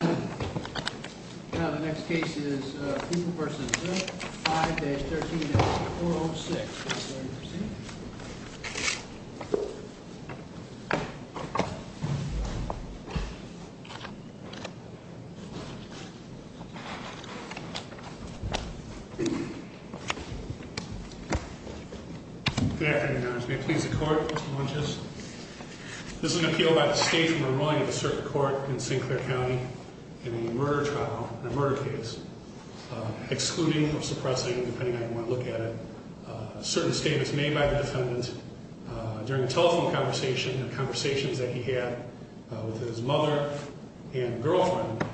5-13-406 Good afternoon, Your Honors. May it please the Court, Mr. Munges? This is an appeal by the State from a ruling of the Circuit Court in St. Clair County in a murder trial, a murder case, excluding or suppressing, depending on how you want to look at it. A certain statement was made by the defendant during a telephone conversation and conversations that he had with his mother and girlfriend.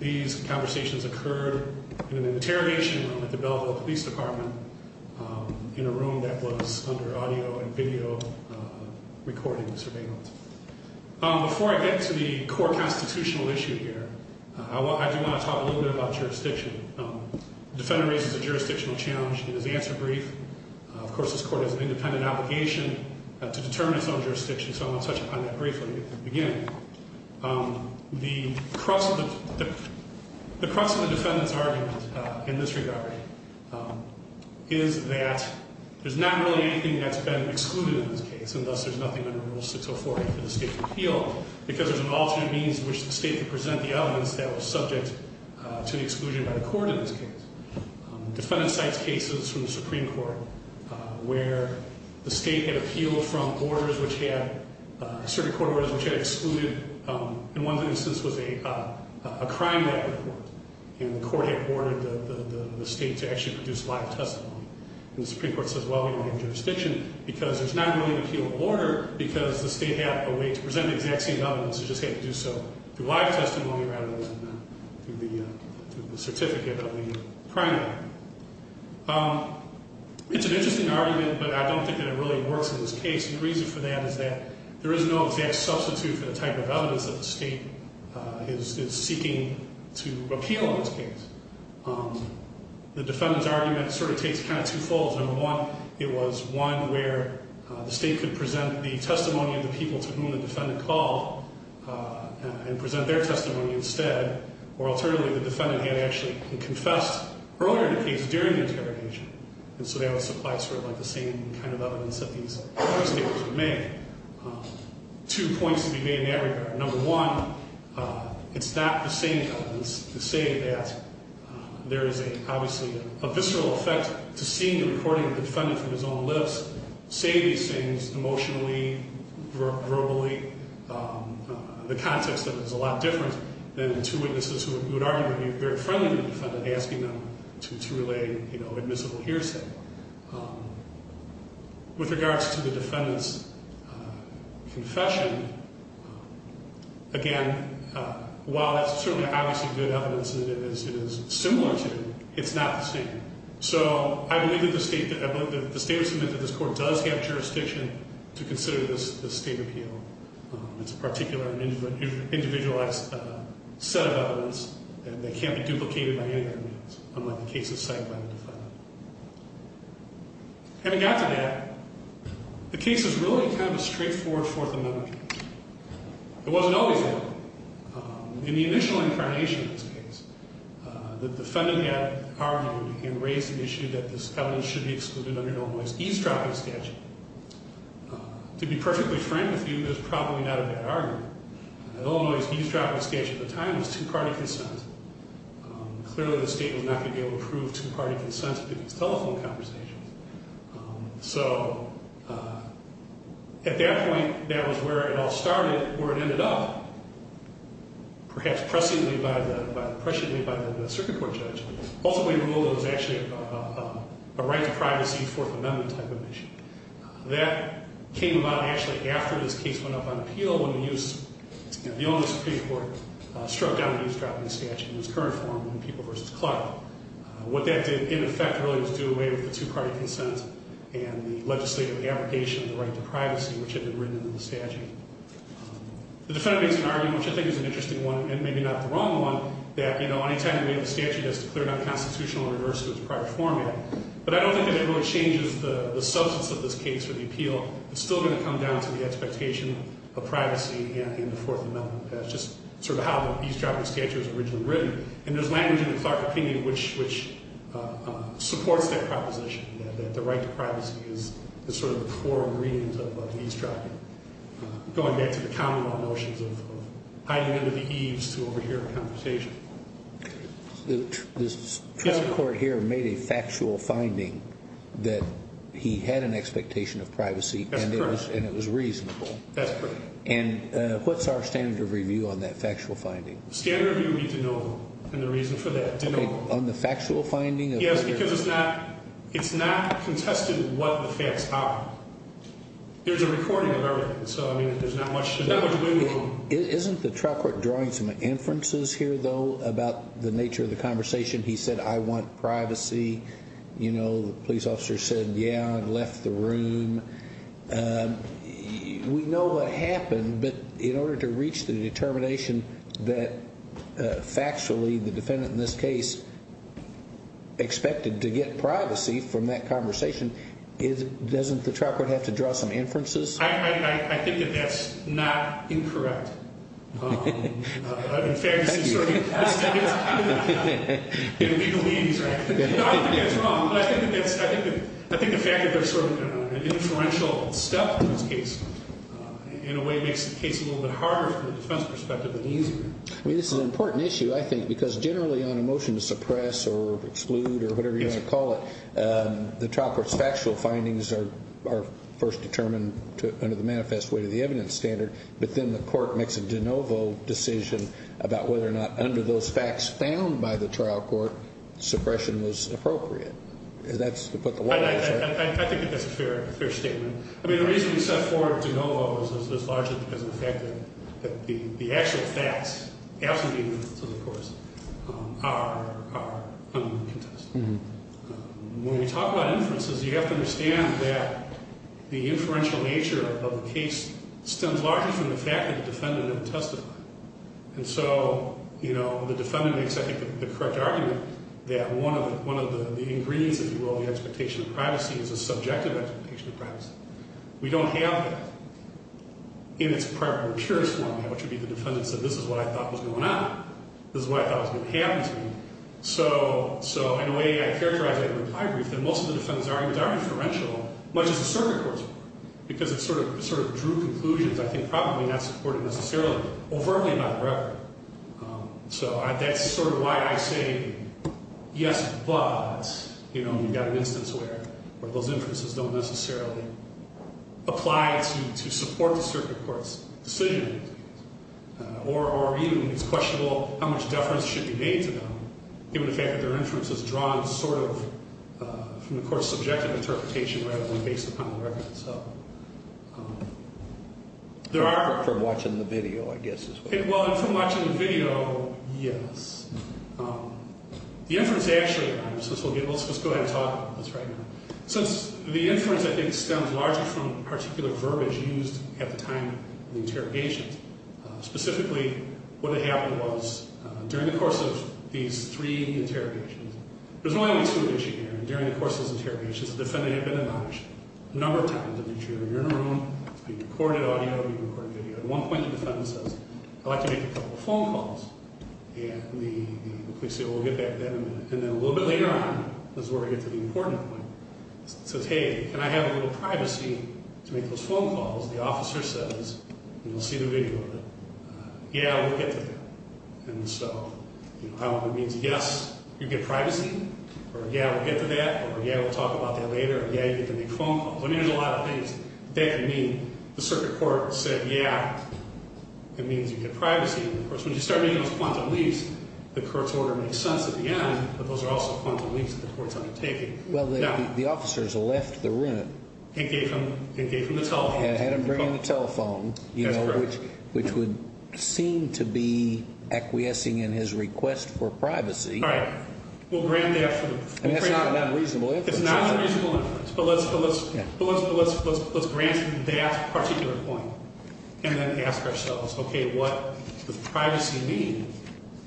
These conversations occurred in an interrogation room at the Belleville Police Department in a room that was under audio and video recording surveillance. Before I get to the core constitutional issue here, I do want to talk a little bit about jurisdiction. The defendant raises a jurisdictional challenge in his answer brief. Of course, this Court has an independent obligation to determine its own jurisdiction, so I'm going to touch upon that briefly at the beginning. The crux of the defendant's argument in this regard is that there's not really anything that's been excluded in this case, and thus there's nothing under Rule 604A for the State to appeal, because there's an alternate means in which the State could present the evidence that was subject to the exclusion by the Court in this case. Defendant cites cases from the Supreme Court where the State had appealed from orders which had, certain court orders which had excluded, in one instance was a crime record, and the Court had ordered the State to actually produce live testimony. And the Supreme Court says, well, we don't have jurisdiction because there's not really an appeal order because the State had a way to present the exact same evidence. You just have to do so through live testimony rather than through the certificate of the crime record. It's an interesting argument, but I don't think that it really works in this case. The reason for that is that there is no exact substitute for the type of evidence that the State is seeking to appeal in this case. The defendant's argument sort of takes kind of two folds. Number one, it was one where the State could present the testimony of the people to whom the defendant called and present their testimony instead. Or alternatively, the defendant had actually confessed earlier in the case during the interrogation. And so that would supply sort of like the same kind of evidence that these prosecutors would make. Two points to be made in that regard. Number one, it's not the same evidence to say that there is obviously a visceral effect to seeing the recording of the defendant from his own lips, say these things emotionally, verbally, the context of it is a lot different than the two witnesses who would arguably be very friendly to the defendant, asking them to relay admissible hearsay. With regards to the defendant's confession, again, while it's certainly obviously good evidence and it is similar to, it's not the same. So I believe that the State would submit that this Court does have jurisdiction to consider this State appeal. It's a particular individualized set of evidence, and they can't be duplicated by any other means, unlike the cases cited by the defendant. Having got to that, the case is really kind of a straightforward Fourth Amendment case. It wasn't always that. In the initial incarnation of this case, the defendant had argued and raised the issue that this evidence should be excluded under Illinois' eavesdropping statute. To be perfectly frank with you, that's probably not a bad argument. Illinois' eavesdropping statute at the time was two-party consent. Clearly, the State was not going to be able to prove two-party consent to these telephone conversations. So at that point, that was where it all started, where it ended up, perhaps presciently by the Circuit Court judge. Ultimately, the rule was actually a right to privacy Fourth Amendment type of issue. That came about actually after this case went up on appeal, when the Illinois Supreme Court struck down the eavesdropping statute in its current form, when people v. Clark. What that did, in effect, really was do away with the two-party consent and the legislative abrogation of the right to privacy, which had been written into the statute. The defendant makes an argument, which I think is an interesting one, and maybe not the wrong one, that, you know, anytime you have a statute that's declared unconstitutional, it reverts to its prior format. But I don't think that it really changes the substance of this case or the appeal. It's still going to come down to the expectation of privacy and the Fourth Amendment as just sort of how the eavesdropping statute was originally written. And there's language in the Clark opinion which supports that proposition, that the right to privacy is sort of the core ingredients of eavesdropping, going back to the common law notions of hiding under the eaves to overhear a conversation. This trial court here made a factual finding that he had an expectation of privacy. That's correct. And it was reasonable. That's correct. And what's our standard of review on that factual finding? Standard review would be de novo, and the reason for that, de novo. On the factual finding? Yes, because it's not contested what the facts are. There's a recording of everything, so, I mean, there's not much to do. Isn't the trial court drawing some inferences here, though, about the nature of the conversation? He said, I want privacy. You know, the police officer said, yeah, and left the room. We know what happened, but in order to reach the determination that factually the defendant in this case expected to get privacy from that conversation, doesn't the trial court have to draw some inferences? I think that that's not incorrect. In fact, this is sort of a mistake. You know, I don't think that's wrong, but I think the fact that there's sort of an inferential stuff in this case, in a way, makes the case a little bit harder from a defense perspective and easier. I mean, this is an important issue, I think, because generally on a motion to suppress or exclude or whatever you want to call it, the trial court's factual findings are first determined under the manifest weight of the evidence standard, but then the court makes a de novo decision about whether or not under those facts found by the trial court suppression was appropriate. And that's to put the law in check. I think that that's a fair statement. I mean, the reason we set forward de novo is largely because of the fact that the actual facts, absolutely the inferences, of course, are under the contest. When we talk about inferences, you have to understand that the inferential nature of the case stems largely from the fact that the defendant didn't testify. And so, you know, the defendant makes, I think, the correct argument that one of the ingredients, if you will, of the expectation of privacy is a subjective expectation of privacy. We don't have that in its prior and impurest form, which would be the defendant said, this is what I thought was going on. This is what I thought was going to happen to me. So in a way, I characterize it with high grief that most of the defendants' arguments are inferential, much as the circuit courts were, because it sort of drew conclusions I think probably not supported necessarily overtly by the record. So that's sort of why I say yes, but, you know, you've got an instance where those inferences don't necessarily apply to support the circuit court's decision, or even it's questionable how much deference should be made to them, given the fact that their inference is drawn sort of from the court's subjective interpretation rather than based upon the record. So there are... From watching the video, I guess, as well. Well, from watching the video, yes. The inference actually, let's just go ahead and talk about this right now. Since the inference, I think, stems largely from particular verbiage used at the time of the interrogations, specifically what had happened was during the course of these three interrogations, there's only one issue here. During the course of these interrogations, the defendant had been admonished a number of times. You're in a room, it's being recorded audio, being recorded video. At one point, the defendant says, I'd like to make a couple of phone calls. And the police say, well, we'll get back to that in a minute. And then a little bit later on is where we get to the important point. He says, hey, can I have a little privacy to make those phone calls? The officer says, and you'll see the video of it, yeah, we'll get to that. And so I don't know if it means yes, you get privacy, or yeah, we'll get to that, or yeah, we'll talk about that later, or yeah, you get to make phone calls. I mean, there's a lot of things that could mean. The circuit court said, yeah, it means you get privacy. Of course, when you start making those quantum leaps, the court's order makes sense at the end, but those are also quantum leaps that the court's undertaking. Well, the officers left the room. And gave him the telephone. Had him bring him the telephone, which would seem to be acquiescing in his request for privacy. All right. We'll grant that. I mean, that's not an unreasonable inference. It's not an unreasonable inference. But let's grant that particular point and then ask ourselves, okay, what does privacy mean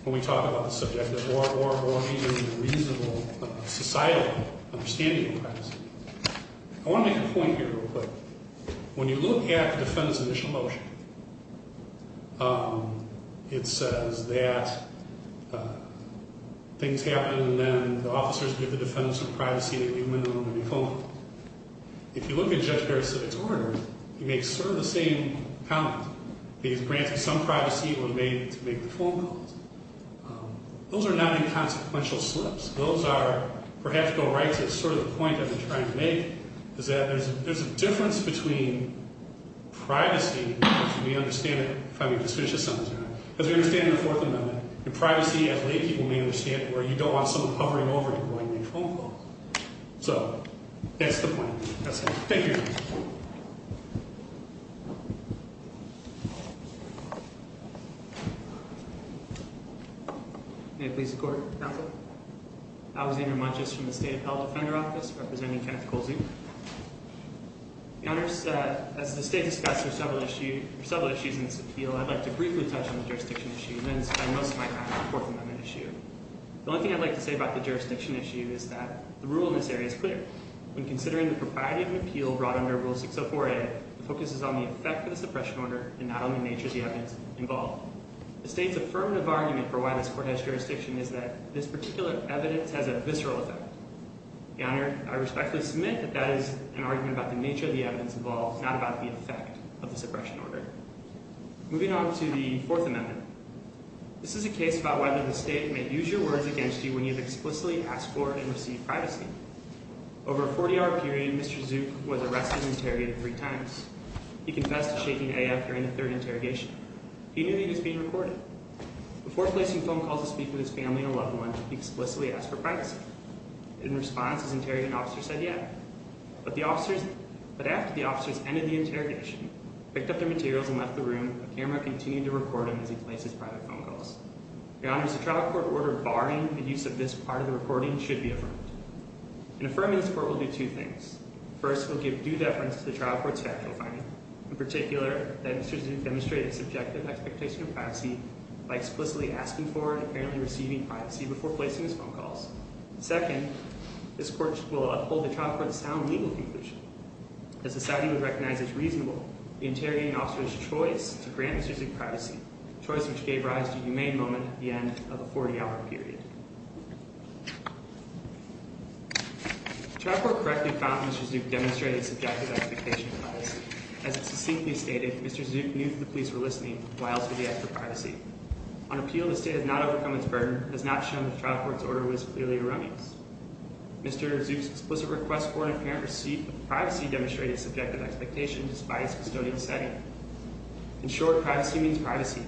when we talk about the subject? Or even a reasonable societal understanding of privacy. I want to make a point here real quick. When you look at the defendant's initial motion, it says that things happen and then the officers give the defendant some privacy and they leave him in the room to make phone calls. If you look at Judge Barrett's civics order, he makes sort of the same comment. He's granted some privacy when made to make the phone calls. Those are not inconsequential slips. Those are, perhaps to go right to sort of the point I've been trying to make, is that there's a difference between privacy, as we understand it, if I may just finish this sentence here, as we understand in the Fourth Amendment, and privacy as laypeople may understand it, where you don't want someone hovering over you while you make phone calls. So that's the point. That's it. Thank you. Thank you. May it please the Court. Counsel. Alexander Munches from the State Appellate Defender Office, representing Kenneth Colsey. Your Honors, as the State discussed, there are several issues in this appeal. I'd like to briefly touch on the jurisdiction issue, and spend most of my time on the Fourth Amendment issue. The only thing I'd like to say about the jurisdiction issue is that the rule in this area is clear. When considering the propriety of an appeal brought under Rule 604A, it focuses on the effect of the suppression order, and not on the nature of the evidence involved. The State's affirmative argument for why this Court has jurisdiction is that this particular evidence has a visceral effect. Your Honor, I respectfully submit that that is an argument about the nature of the evidence involved, not about the effect of the suppression order. Moving on to the Fourth Amendment. This is a case about whether the State may use your words against you when you've explicitly asked for and received privacy. Over a 40-hour period, Mr. Zook was arrested and interrogated three times. He confessed to shaking A.F. during the third interrogation. He knew that he was being recorded. Before placing phone calls to speak with his family and a loved one, he explicitly asked for privacy. In response, his interrogant officer said, yeah. But after the officers ended the interrogation, picked up their materials, and left the room, the camera continued to record him as he placed his private phone calls. Your Honor, the trial court ordered barring the use of this part of the recording should be affirmed. In affirming this Court, we'll do two things. First, we'll give due deference to the trial court's factual finding. In particular, that Mr. Zook demonstrated a subjective expectation of privacy by explicitly asking for and apparently receiving privacy before placing his phone calls. Second, this Court will uphold the trial court's sound legal conclusion. As the society would recognize as reasonable, the interrogating officer's choice to grant Mr. Zook privacy, a choice which gave rise to a humane moment at the end of a 40-hour period. The trial court correctly found Mr. Zook demonstrated a subjective expectation of privacy. As it succinctly stated, Mr. Zook knew that the police were listening, why else would he ask for privacy? On appeal, the State has not overcome its burden and has not shown that the trial court's order was clearly erroneous. Mr. Zook's explicit request for and apparent receipt of privacy demonstrated a subjective expectation despite his custodial setting. In short, privacy means privacy.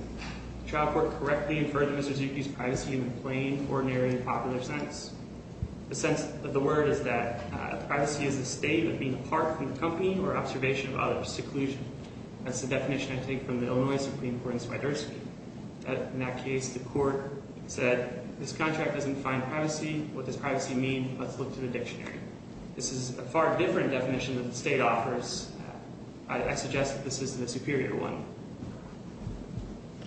The trial court correctly inferred that Mr. Zook used privacy in the plain, ordinary, and popular sense. The sense of the word is that privacy is the state of being apart from the company or observation of other seclusion. That's the definition I take from the Illinois Supreme Court in Swiderski. In that case, the court said, this contract doesn't define privacy. What does privacy mean? Let's look to the dictionary. This is a far different definition that the State offers. I suggest that this is the superior one.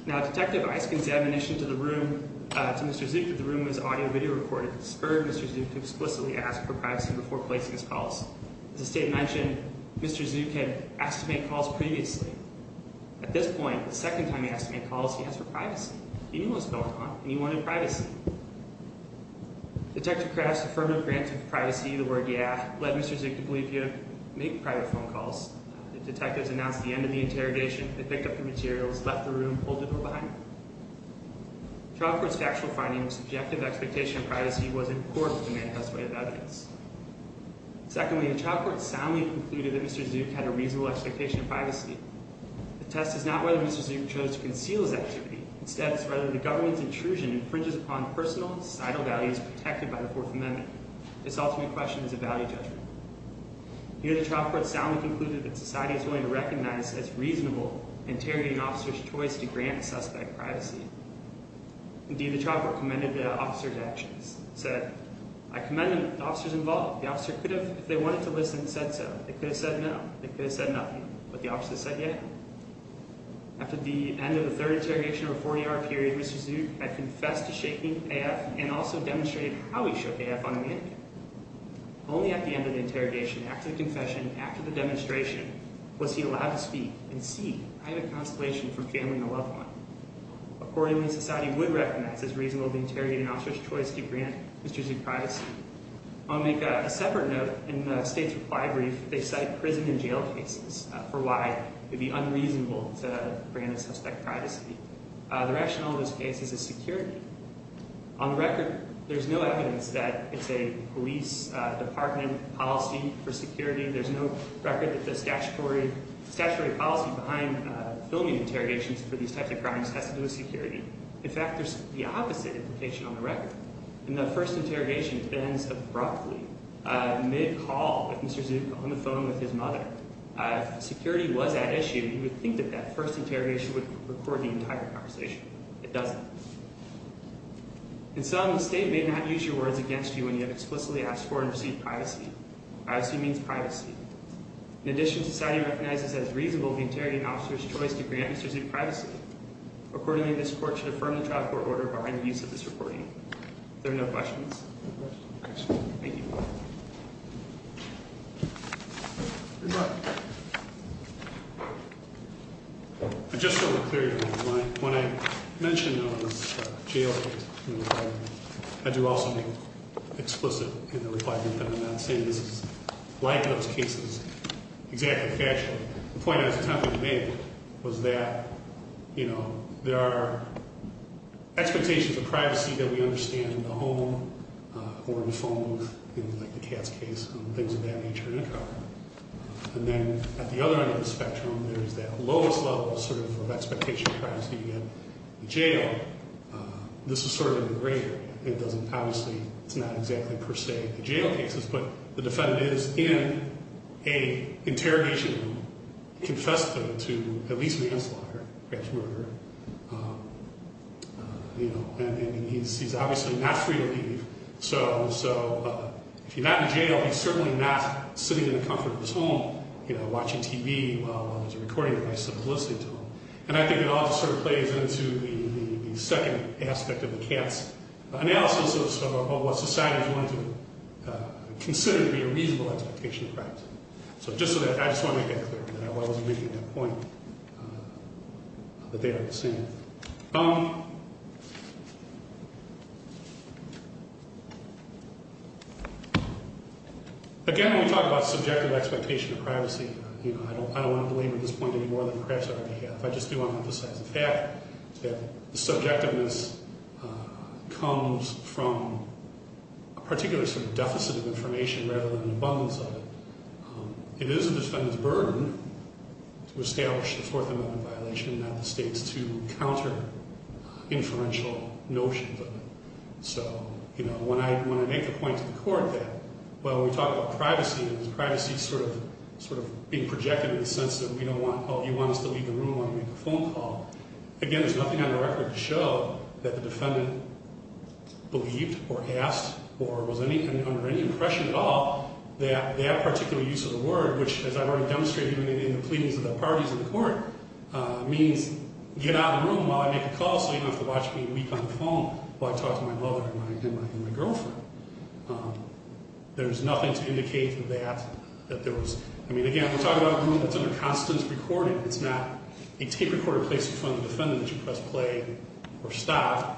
Now, Detective Isken's admonition to Mr. Zook that the room was audio-video recorded spurred Mr. Zook to explicitly ask for privacy before placing his calls. As the State mentioned, Mr. Zook had asked to make calls previously. At this point, the second time he asked to make calls, he asked for privacy. He knew what was going on, and he wanted privacy. Detective Krause's affirmative grant of privacy, the word yeah, led Mr. Zook to believe he had made private phone calls. The detectives announced the end of the interrogation. They picked up the materials, left the room, and pulled the door behind them. The trial court's factual finding of the subjective expectation of privacy was in accord with the manifest way of evidence. Secondly, the trial court soundly concluded that Mr. Zook had a reasonable expectation of privacy. The test is not whether Mr. Zook chose to conceal his activity. Instead, it's whether the government's intrusion infringes upon personal and societal values protected by the Fourth Amendment. This ultimate question is a value judgment. Here, the trial court soundly concluded that society is willing to recognize as reasonable interrogating officers' choice to grant a suspect privacy. Indeed, the trial court commended the officers' actions. It said, I commend the officers involved. The officer could have, if they wanted to listen, said so. They could have said no. They could have said nothing. But the officer said yeah. After the end of the third interrogation over a 40-hour period, Mr. Zook had confessed to shaking AF and also demonstrated how he shook AF on a mannequin. Only at the end of the interrogation, after the confession, after the demonstration, was he allowed to speak and see, I have a consolation for family and a loved one. Accordingly, society would recognize as reasonable the interrogating officer's choice to grant Mr. Zook privacy. I'll make a separate note. In the state's reply brief, they cite prison and jail cases for why it would be unreasonable to grant a suspect privacy. The rationale of this case is security. On record, there's no evidence that it's a police department policy for security. There's no record that the statutory policy behind filming interrogations for these types of crimes has to do with security. In fact, there's the opposite implication on the record. In the first interrogation, it ends abruptly, mid-call, with Mr. Zook on the phone with his mother. If security was at issue, you would think that that first interrogation would record the entire conversation. It doesn't. In sum, the state may not use your words against you when you have explicitly asked for and received privacy. Privacy means privacy. In addition, society recognizes as reasonable the interrogating officer's choice to grant Mr. Zook privacy. Accordingly, this court should affirm the trial court order behind the use of this recording. Are there no questions? Thank you. I just want to clear your mind. When I mentioned on the jail case, I do also mean explicit in the requirement that I'm not saying this is like those cases, exactly factual. The point I was attempting to make was that, you know, there are expectations of privacy that we understand in the home or in the phone, like the Katz case, things of that nature in a trial. And then at the other end of the spectrum, there is that lowest level sort of expectation of privacy in jail. This is sort of the greater. It doesn't, obviously, it's not exactly per se the jail cases, but the defendant is in an interrogation room, confessed to at least manslaughter, crash murder, you know, and he's obviously not free to leave. So if you're not in jail, he's certainly not sitting in the comfort of his home, you know, watching TV while there's a recording of this and listening to him. And I think it all sort of plays into the second aspect of the Katz analysis of what society is going to consider to be a reasonable expectation of privacy. So just so that I just want to make that clear that I wasn't making that point, that they are the same. Again, when we talk about subjective expectation of privacy, you know, I don't want to belabor this point any more than perhaps I already have. I just do want to emphasize the fact that the subjectiveness comes from a particular sort of deficit of information rather than abundance of it. It is the defendant's burden to establish the Fourth Amendment violation, not the state's, to counter inferential notions of it. So, you know, when I make the point to the court that, well, we talk about privacy and privacy is sort of being projected in the sense that we don't want, oh, you want us to leave the room, you want to make a phone call. Again, there's nothing on the record to show that the defendant believed or asked or was under any impression at all that that particular use of the word, which as I've already demonstrated in the pleadings of the parties in the court, means get out of the room while I make a call so you don't have to watch me weep on the phone while I talk to my mother and my girlfriend. There's nothing to indicate that there was, I mean, again, we're talking about a room that's under constant recording. It's not a tape recorder placed in front of the defendant that you press play or stop.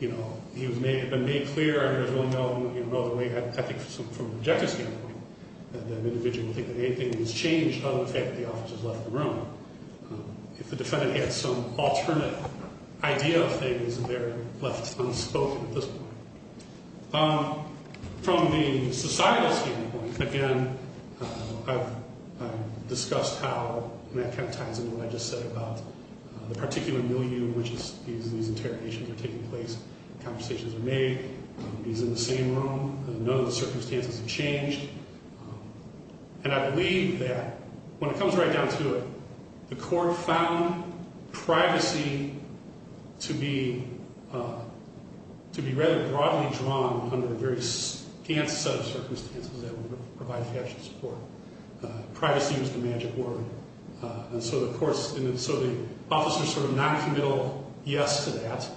You know, it may have been made clear, I don't really know the way, I think from an objective standpoint, that an individual would think that anything has changed other than the fact that the officer has left the room. If the defendant had some alternate idea of things, they're left unspoken at this point. From the societal standpoint, again, I've discussed how that kind of ties into what I just said about the particular milieu in which these interrogations are taking place, conversations are made, he's in the same room, none of the circumstances have changed. And I believe that when it comes right down to it, the court found privacy to be rather broadly drawn under the various set of circumstances that would provide factual support. Privacy was the magic word. And so the court's, and so the officer's sort of noncommittal yes to that,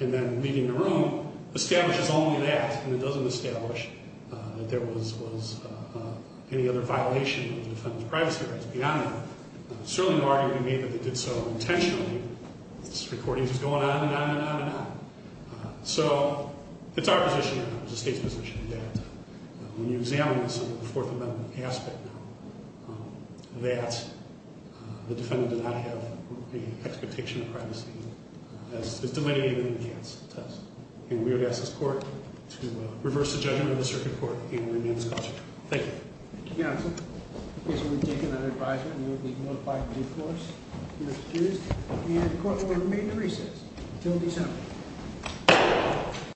and then leaving the room, establishes only that, and it doesn't establish that there was any other violation of the defendant's privacy rights beyond that. It's certainly no argument to me that they did so intentionally. This recording is going on and on and on and on. So it's our position, it's the state's position, that when you examine this under the Fourth Amendment aspect, that the defendant did not have the expectation of privacy as delineated in the chance test. And we would ask this court to reverse the judgment of the circuit court and remain in the subject. Thank you. Thank you, counsel. In case you would have taken that advisement, you would be notified of due course if you're excused. And the court will remain in recess until December.